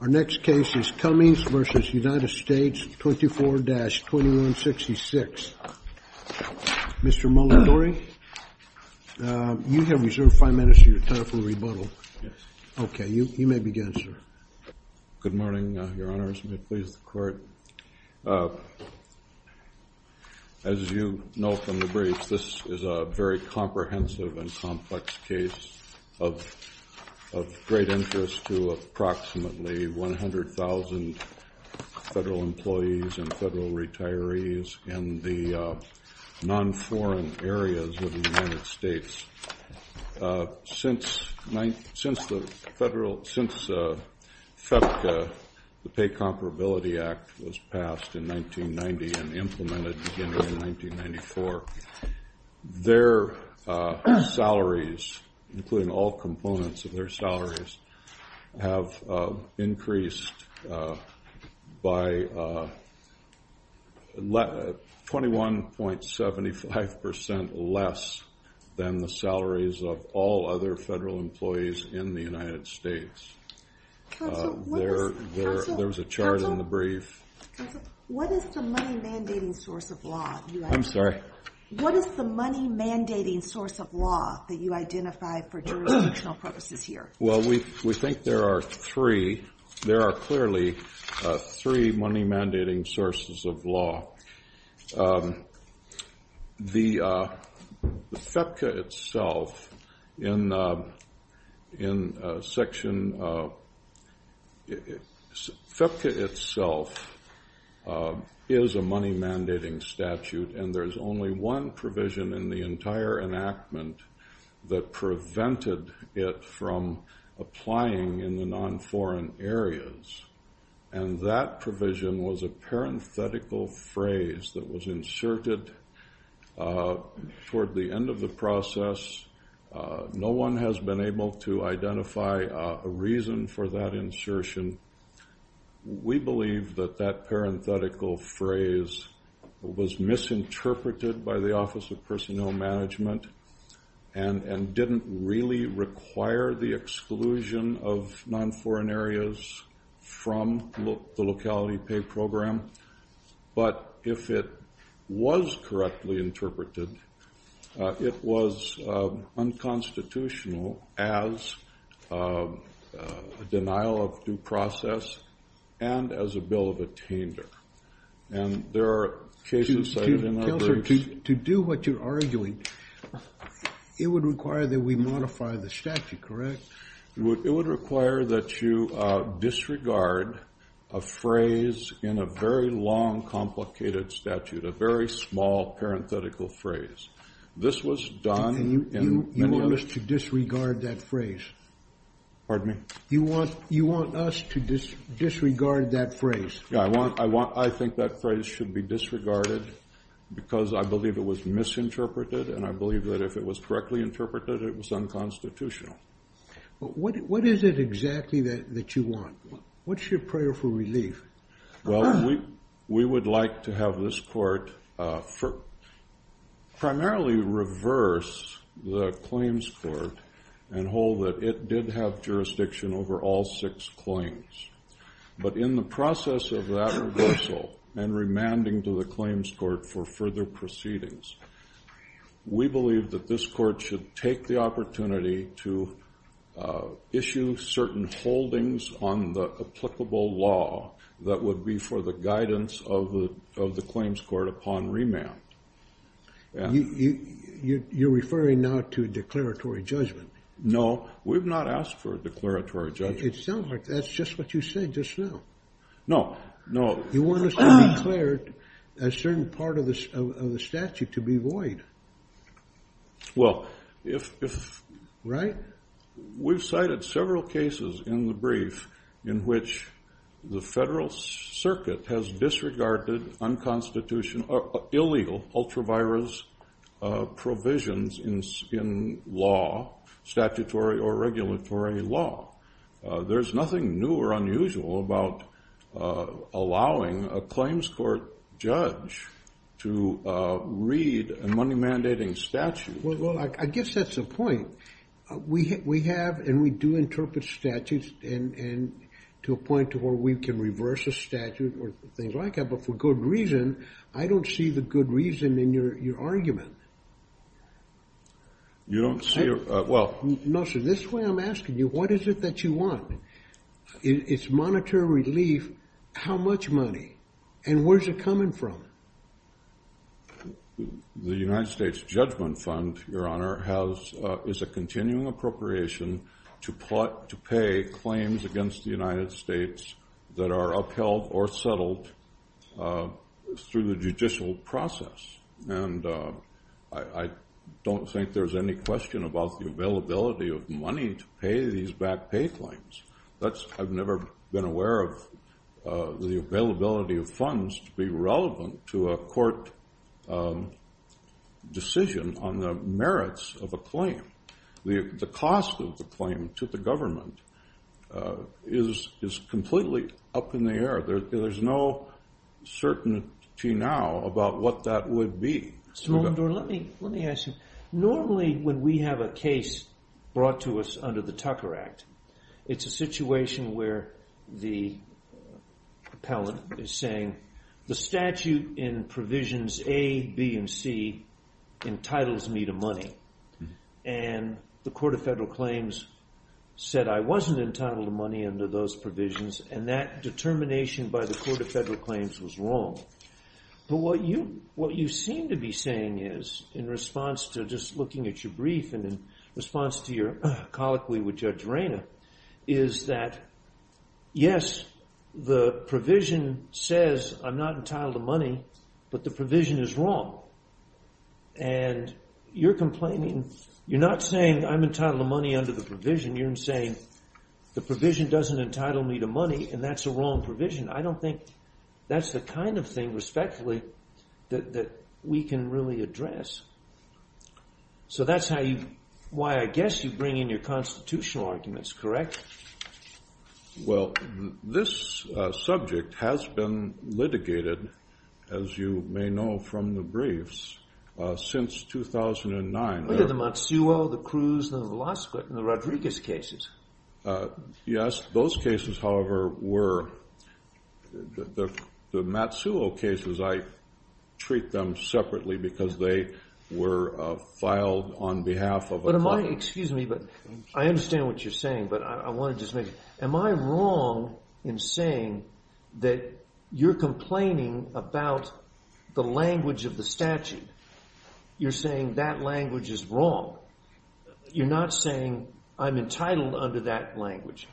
24-2166. Mr. Mulandory, you have reserved five minutes for your time for rebuttal. Okay, you may begin, sir. Good morning, Your Honor. As you know from the brief, this is a very comprehensive and complex case of great interest to approximately 100,000 federal employees and federal retirees in the non-foreign areas of the United States. Since FEDCA, the Pay in 1994, their salaries, including all components of their salaries, have increased by 21.75% less than the salaries of all other federal employees in the United States. There was a chart in the I'm sorry. What is the money mandating source of law that you identify for jurisdictional purposes here? Well, we think there are three. There are clearly three money mandating sources of law. The FEDCA itself in section FEDCA itself is a money mandating statute, and there's only one provision in the entire enactment that prevented it from applying in the non-foreign areas. And that provision was a parenthetical phrase that was inserted toward the end of the process. No one has been able to identify a reason for that insertion. We believe that that parenthetical phrase was misinterpreted by the Office of Personnel Management and didn't really require the exclusion of non-foreign areas from the locality pay program. But if it was correctly interpreted, it was unconstitutional as a denial of due process and as a bill of attainder. And there are cases cited in our briefs. Counselor, to do what you're arguing, it would require that we identify the statute, correct? It would require that you disregard a phrase in a very long, complicated statute, a very small parenthetical phrase. This was done in... And you want us to disregard that phrase? Pardon me? You want us to disregard that phrase? Yeah, I think that phrase should be disregarded because I believe it was misinterpreted, and I believe that if it was correctly interpreted, it was unconstitutional. But what is it exactly that you want? What's your prayer for relief? Well, we would like to have this court primarily reverse the claims court and hold that it did have jurisdiction over all six claims. But in the process of that reversal and remanding to the claims court for further proceedings, we believe that this court should take the opportunity to issue certain holdings on the applicable law that would be for the guidance of the claims court upon remand. You're referring now to a declaratory judgment? No, we've not asked for a declaratory judgment. It sounds like that's just what you said just now. No, no. You want us to declare a certain part of the statute to be void. Well, if... Right? We've cited several cases in the brief in which the federal circuit has disregarded unconstitutional, illegal, ultra-virus provisions in law, statutory or regulatory law. There's nothing new or unusual about allowing a claims court judge to read a money-mandating statute. Well, I guess that's the point. We have and we do interpret statutes to a point to where we can reverse a statute or things like that, but for good reason, I don't see the good reason in your argument. You don't see... Well... No, sir, this way I'm asking you, what is it that you want? It's monetary relief. How much money? And where's it coming from? The United States Judgment Fund, Your Honor, is a continuing appropriation to pay claims against the United States that are upheld or settled through the judicial process. And I don't think there's any question about the availability of money to pay these back pay claims. I've never been aware of the availability of funds to be relevant to a court decision on the merits of a claim. The cost of the claim to the government is completely up in the air. There's no certainty now about what that would be. Let me ask you, normally when we have a case brought to us under the Tucker Act, it's a situation where the appellate is saying, the statute in provisions A, B, and C entitles me to money. And the Court of Federal Claims said I wasn't entitled to money under those provisions, and that determination by the Court of Federal Claims was wrong. But what you seem to be saying is, in response to just looking at your brief and in response to your colloquy with Judge Reina, is that, yes, the provision says I'm not entitled to money, but the provision is wrong. And you're complaining, you're not saying I'm entitled to money under the provision, you're saying the provision doesn't entitle me to money, and that's a wrong provision. I don't think that's the kind of thing, respectfully, that we can really address. So that's how you, why I guess you bring in your constitutional arguments, correct? Well, this subject has been litigated, as you may know from the briefs, since 2009. Look at the Matsuo, the Cruz, the Lasquitt, and the Rodriguez cases. Yes, those cases, however, were, the Matsuo cases, I treat them separately because they were filed on behalf of a Excuse me, but I understand what you're saying, but I want to just make, am I wrong in saying that you're complaining about the language of the statute? You're saying that language is wrong. You're not saying I'm entitled under that language.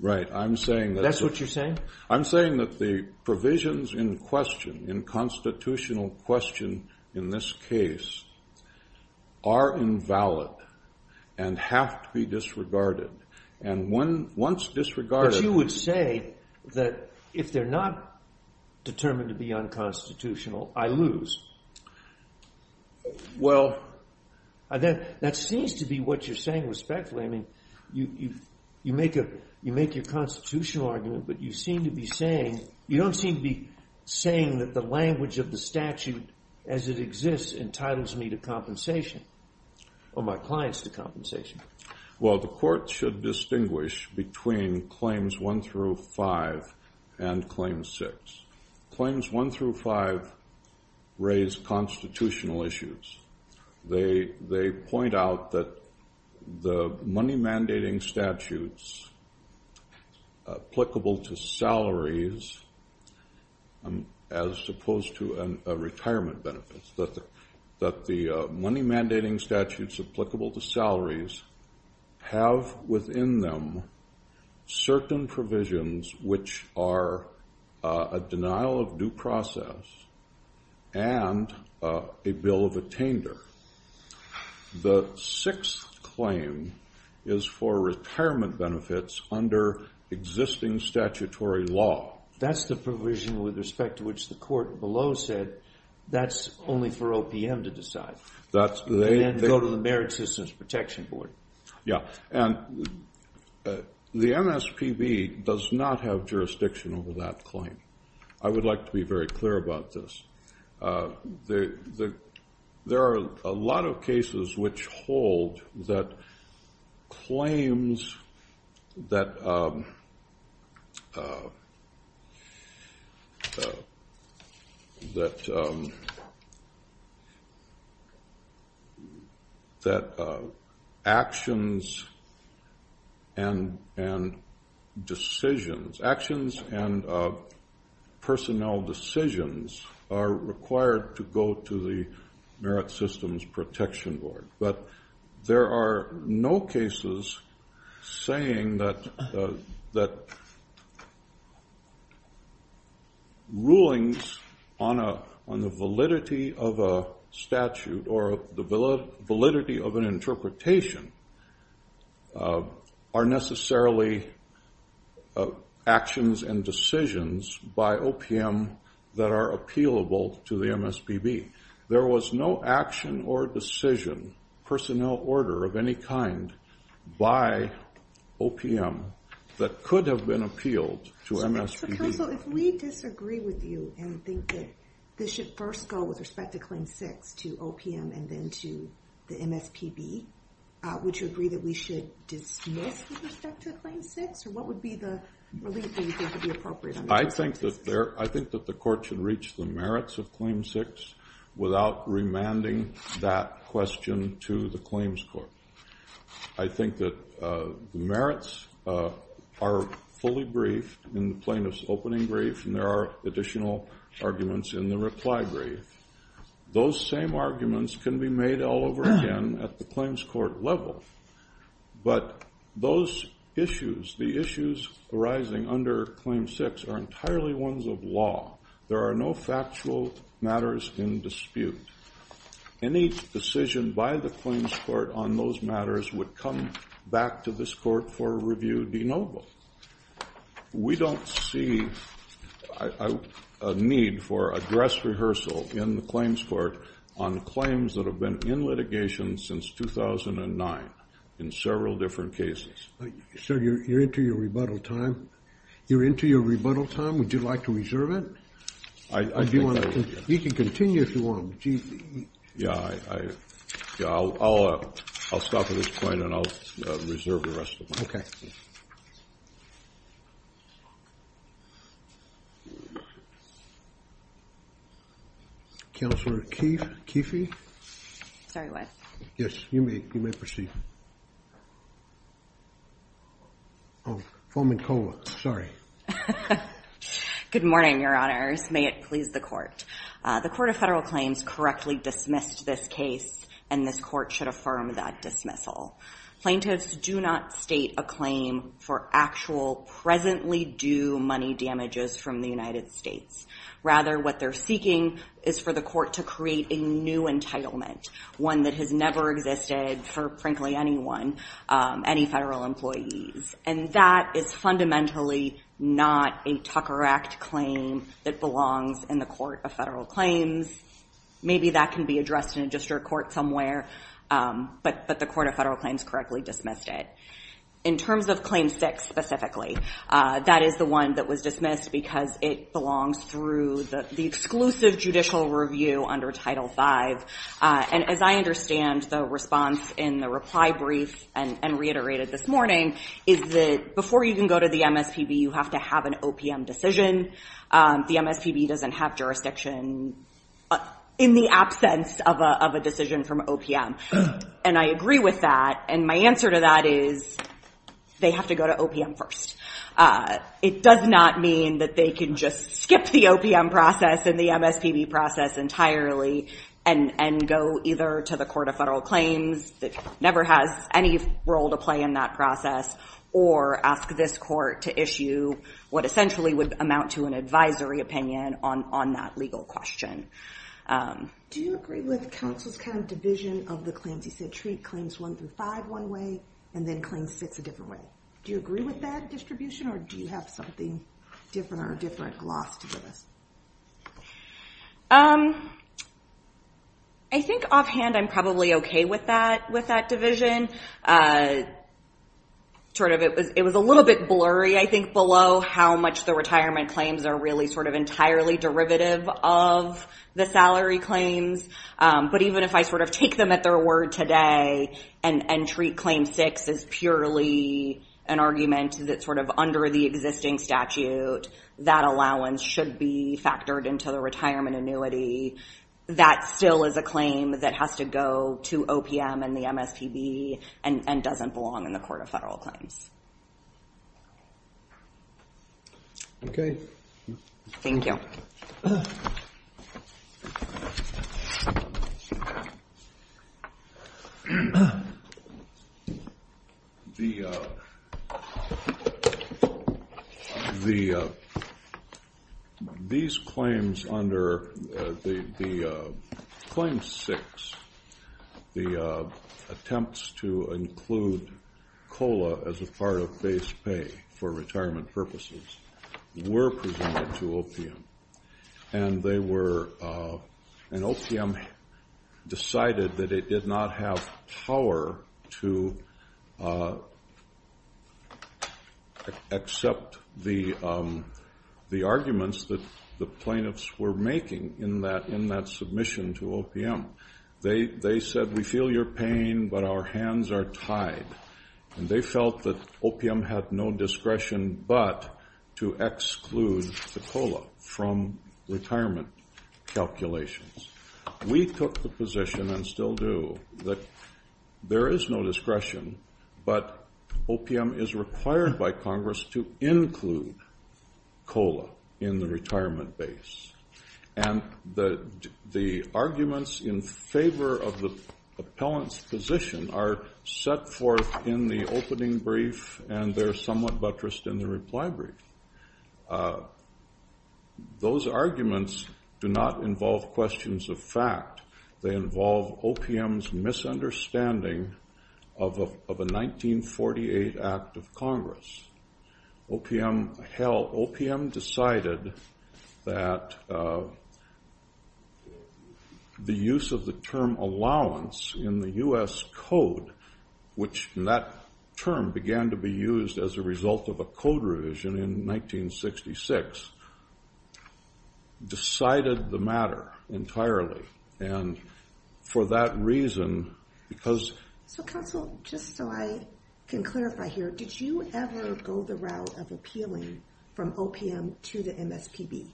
Right, I'm saying that That's what you're saying? I'm saying that the provisions in question, in constitutional question in this case, are invalid and have to be disregarded. And once disregarded But you would say that if they're not determined to be unconstitutional, I lose. Well, that seems to be what you're saying respectfully. I mean, you make your constitutional argument, but you seem to be saying, you don't seem to be saying that the language of the statute as it exists entitles me to compensation, or my clients to Well, the court should distinguish between claims one through five and claim six. Claims one through five raise constitutional issues. They point out that the money mandating statutes applicable to salaries, as opposed to retirement benefits, that the money mandating statutes applicable to salaries have within them certain provisions, which are a denial of due process and a bill of attainder. The sixth claim is for retirement benefits under existing statutory law. That's the provision with respect to which the court below said, that's only for OPM to decide. And go to the Merit Citizens Protection Board. Yeah. And the MSPB does not have jurisdiction over that claim. I would like to be very clear about this. There are a lot of cases which hold that claims that actions and decisions, actions and personnel decisions are required to go to the Merit Systems Protection Board. But there are no cases saying that rulings on the validity of a statute or the validity of an interpretation are necessarily actions and decisions by OPM that are appealable to the MSPB. There was no action or decision, personnel order of any kind by OPM that could have been appealed to MSPB. So, counsel, if we disagree with you and think that this should first go with respect to claim six to OPM and then to the MSPB, would you agree that we should dismiss with respect to claim six? Or what would be the relief that you think would be appropriate? I think that the court should reach the merits of claim six without remanding that question to the claims court. I think that merits are fully briefed in the plaintiff's opening brief. And there are additional arguments in the reply brief. Those same arguments can be made all over again at the claims court level. But those issues, the issues arising under claim six are entirely ones of law. There are no factual matters in dispute. Any decision by the claims court on those matters would come back to this court for review de novo. So, we don't see a need for a dress rehearsal in the claims court on claims that have been in litigation since 2009 in several different cases. So, you're into your rebuttal time? You're into your rebuttal time? Would you like to reserve it? I think that would be good. You can continue if you want. Yeah, I'll stop at this point and I'll reserve the rest of my time. Okay. Counselor Keefe? Sorry, what? Yes, you may proceed. Oh, Fomenkova, sorry. Good morning, your honors. May it please the court. The court of federal claims correctly dismissed this case and this court should affirm that dismissal. Plaintiffs do not state a claim for actual presently due money damages from the United States. Rather, what they're seeking is for the court to create a new entitlement, one that has never existed for, frankly, anyone, any federal employees. And that is fundamentally not a Tucker Act claim that belongs in the court of federal claims. Maybe that can be addressed in a district court somewhere, but the court of federal claims correctly dismissed it. In terms of claim six specifically, that is the one that was dismissed because it belongs through the exclusive judicial review under Title V. And as I understand, the response in the reply brief and reiterated this morning is that before you can go to the MSPB, you have to have an OPM decision. The MSPB doesn't have jurisdiction in the absence of a decision from OPM. And I agree with that. And my answer to that is they have to go to OPM first. It does not mean that they can just skip the OPM process and the MSPB process entirely and go either to the court of federal claims, that never has any role to play in that process, or ask this court to issue what essentially would amount to an advisory opinion on that legal question. Do you agree with counsel's kind of division of the claims? He said treat claims one through five one way and then claim six a different way. Do you agree with that distribution or do you have something different or different gloss to this? I think offhand, I'm probably OK with that division. It was a little bit blurry, I think, below how much the retirement claims are really sort of entirely derivative of the salary claims. But even if I sort of take them at their word today and treat claim six as purely an argument that sort of under the existing statute, that allowance should be factored into the retirement annuity. That still is a claim that has to go to OPM and the MSPB and doesn't belong in the court of federal claims. OK. Thank you. These claims under the claim six, the attempts to include COLA as a part of base pay for retirement purposes, were presented to OPM and OPM decided that it did not have power to accept the arguments that the plaintiffs were making in that submission to OPM. They said, we feel your pain, but our hands are tied. And they felt that OPM had no discretion but to exclude the COLA from retirement calculations. We took the position and still do that there is no discretion, but OPM is required by Congress to include COLA in the retirement base. And the arguments in favor of the appellant's position are set forth in the opening brief and they're somewhat buttressed in the reply brief. Those arguments do not involve questions of fact. They involve OPM's misunderstanding of a 1948 Act of Congress. OPM decided that the use of the term allowance in the U.S. code, which that term began to be used as a result of a code revision in 1966, decided the matter entirely. And for that reason, because... So, counsel, just so I can clarify here, did you ever go the route of appealing from OPM to the MSPB?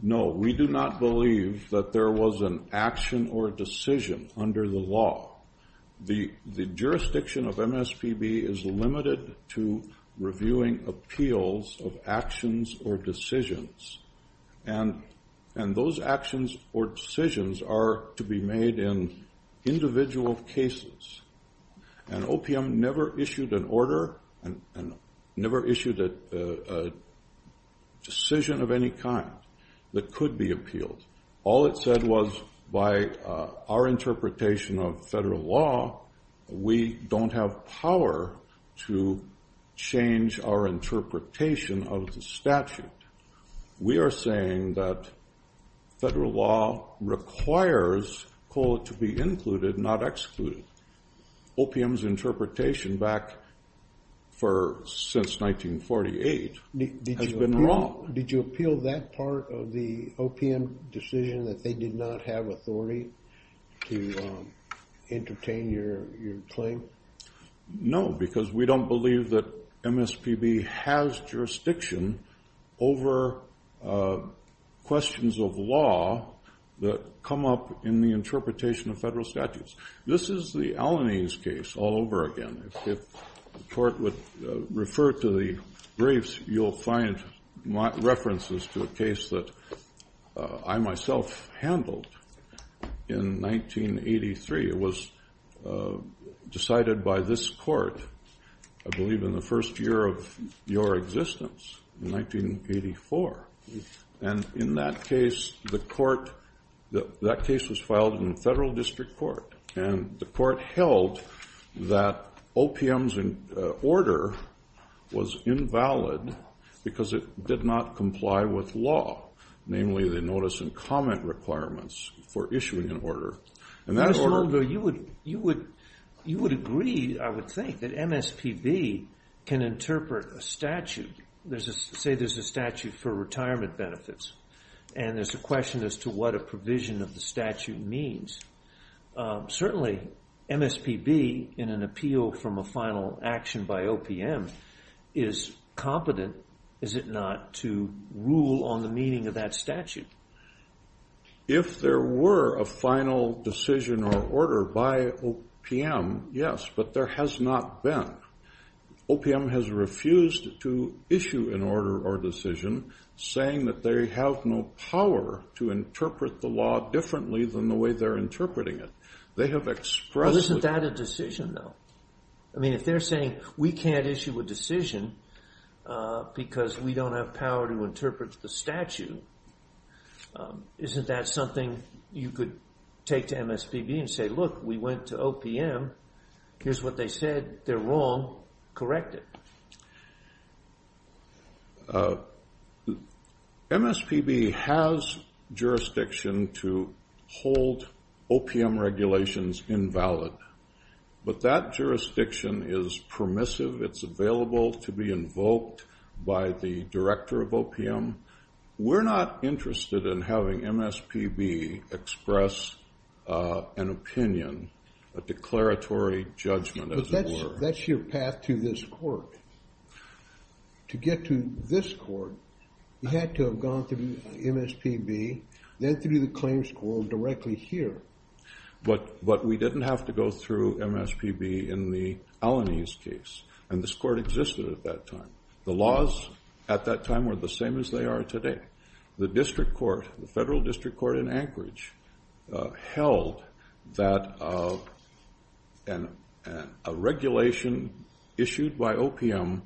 No, we do not believe that there was an action or decision under the law. The jurisdiction of MSPB is limited to reviewing appeals of actions or decisions. And those actions or decisions are to be made in individual cases. And OPM never issued an order and never issued a decision of any kind that could be appealed. All it said was by our interpretation of federal law, we don't have power to change our interpretation of the statute. We are saying that federal law requires COLA to be included, not excluded. OPM's interpretation back since 1948 has been wrong. Did you appeal that part of the OPM decision that they did not have authority to entertain your claim? No, because we don't believe that MSPB has jurisdiction over questions of law that come up in the interpretation of federal statutes. This is the Alanese case all over again. If the court would refer to the briefs, you'll find references to a case that I myself handled in 1983. It was decided by this court, I believe in the first year of your existence, in 1984. And in that case, the court, that case was filed in the federal district court. And the court held that OPM's order was invalid because it did not comply with law, namely the notice and comment requirements for issuing an order. Mr. Mulgrew, you would agree, I would think, that MSPB can interpret a statute. Say there's a statute for retirement benefits, and there's a question as to what a provision of the statute means. Certainly, MSPB, in an appeal from a final action by OPM, is competent, is it not, to rule on the meaning of that statute? If there were a final decision or order by OPM, yes, but there has not been. OPM has refused to issue an order or decision saying that they have no power to interpret the law differently than the way they're interpreting it. They have expressed... Well, isn't that a decision, though? I mean, if they're saying, we can't issue a decision because we don't have power to interpret the statute, isn't that something you could take to MSPB and say, look, we went to OPM, here's what they said, they're wrong, correct it. MSPB has jurisdiction to hold OPM regulations invalid, but that jurisdiction is permissive. It's available to be invoked by the director of OPM. We're not interested in having MSPB express an opinion, a declaratory judgment, as it were. That's your path to this court. To get to this court, you had to have gone through MSPB, then through the claims court directly here. But we didn't have to go through MSPB in the Alaniz case, and this court existed at that time. The laws at that time were the same as they are today. The district court, the federal district court in Anchorage, held that a regulation issued by OPM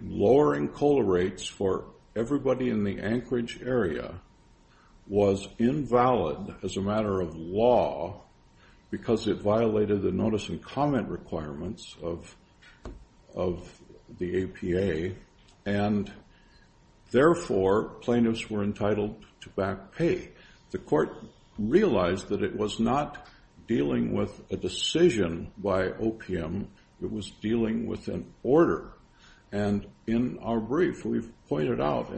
lowering COLA rates for everybody in the Anchorage area was invalid as a matter of law because it violated the notice and comment requirements of the APA, and therefore plaintiffs were entitled to back pay. The court realized that it was not dealing with a decision by OPM. It was dealing with an order, and in our brief, we've pointed out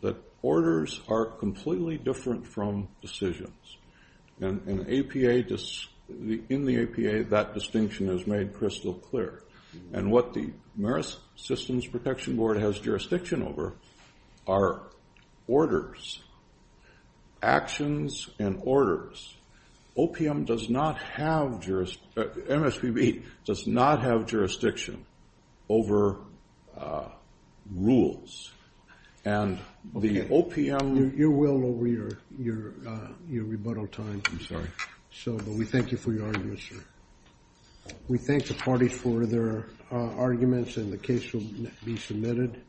that orders are completely different from decisions. In the APA, that distinction is made crystal clear. And what the Marist Systems Protection Board has jurisdiction over are orders, actions and orders. OPM does not have jurisdiction. MSPB does not have jurisdiction over rules. Your will over your rebuttal time. I'm sorry. But we thank you for your argument, sir. We thank the parties for their arguments, and the case will be submitted.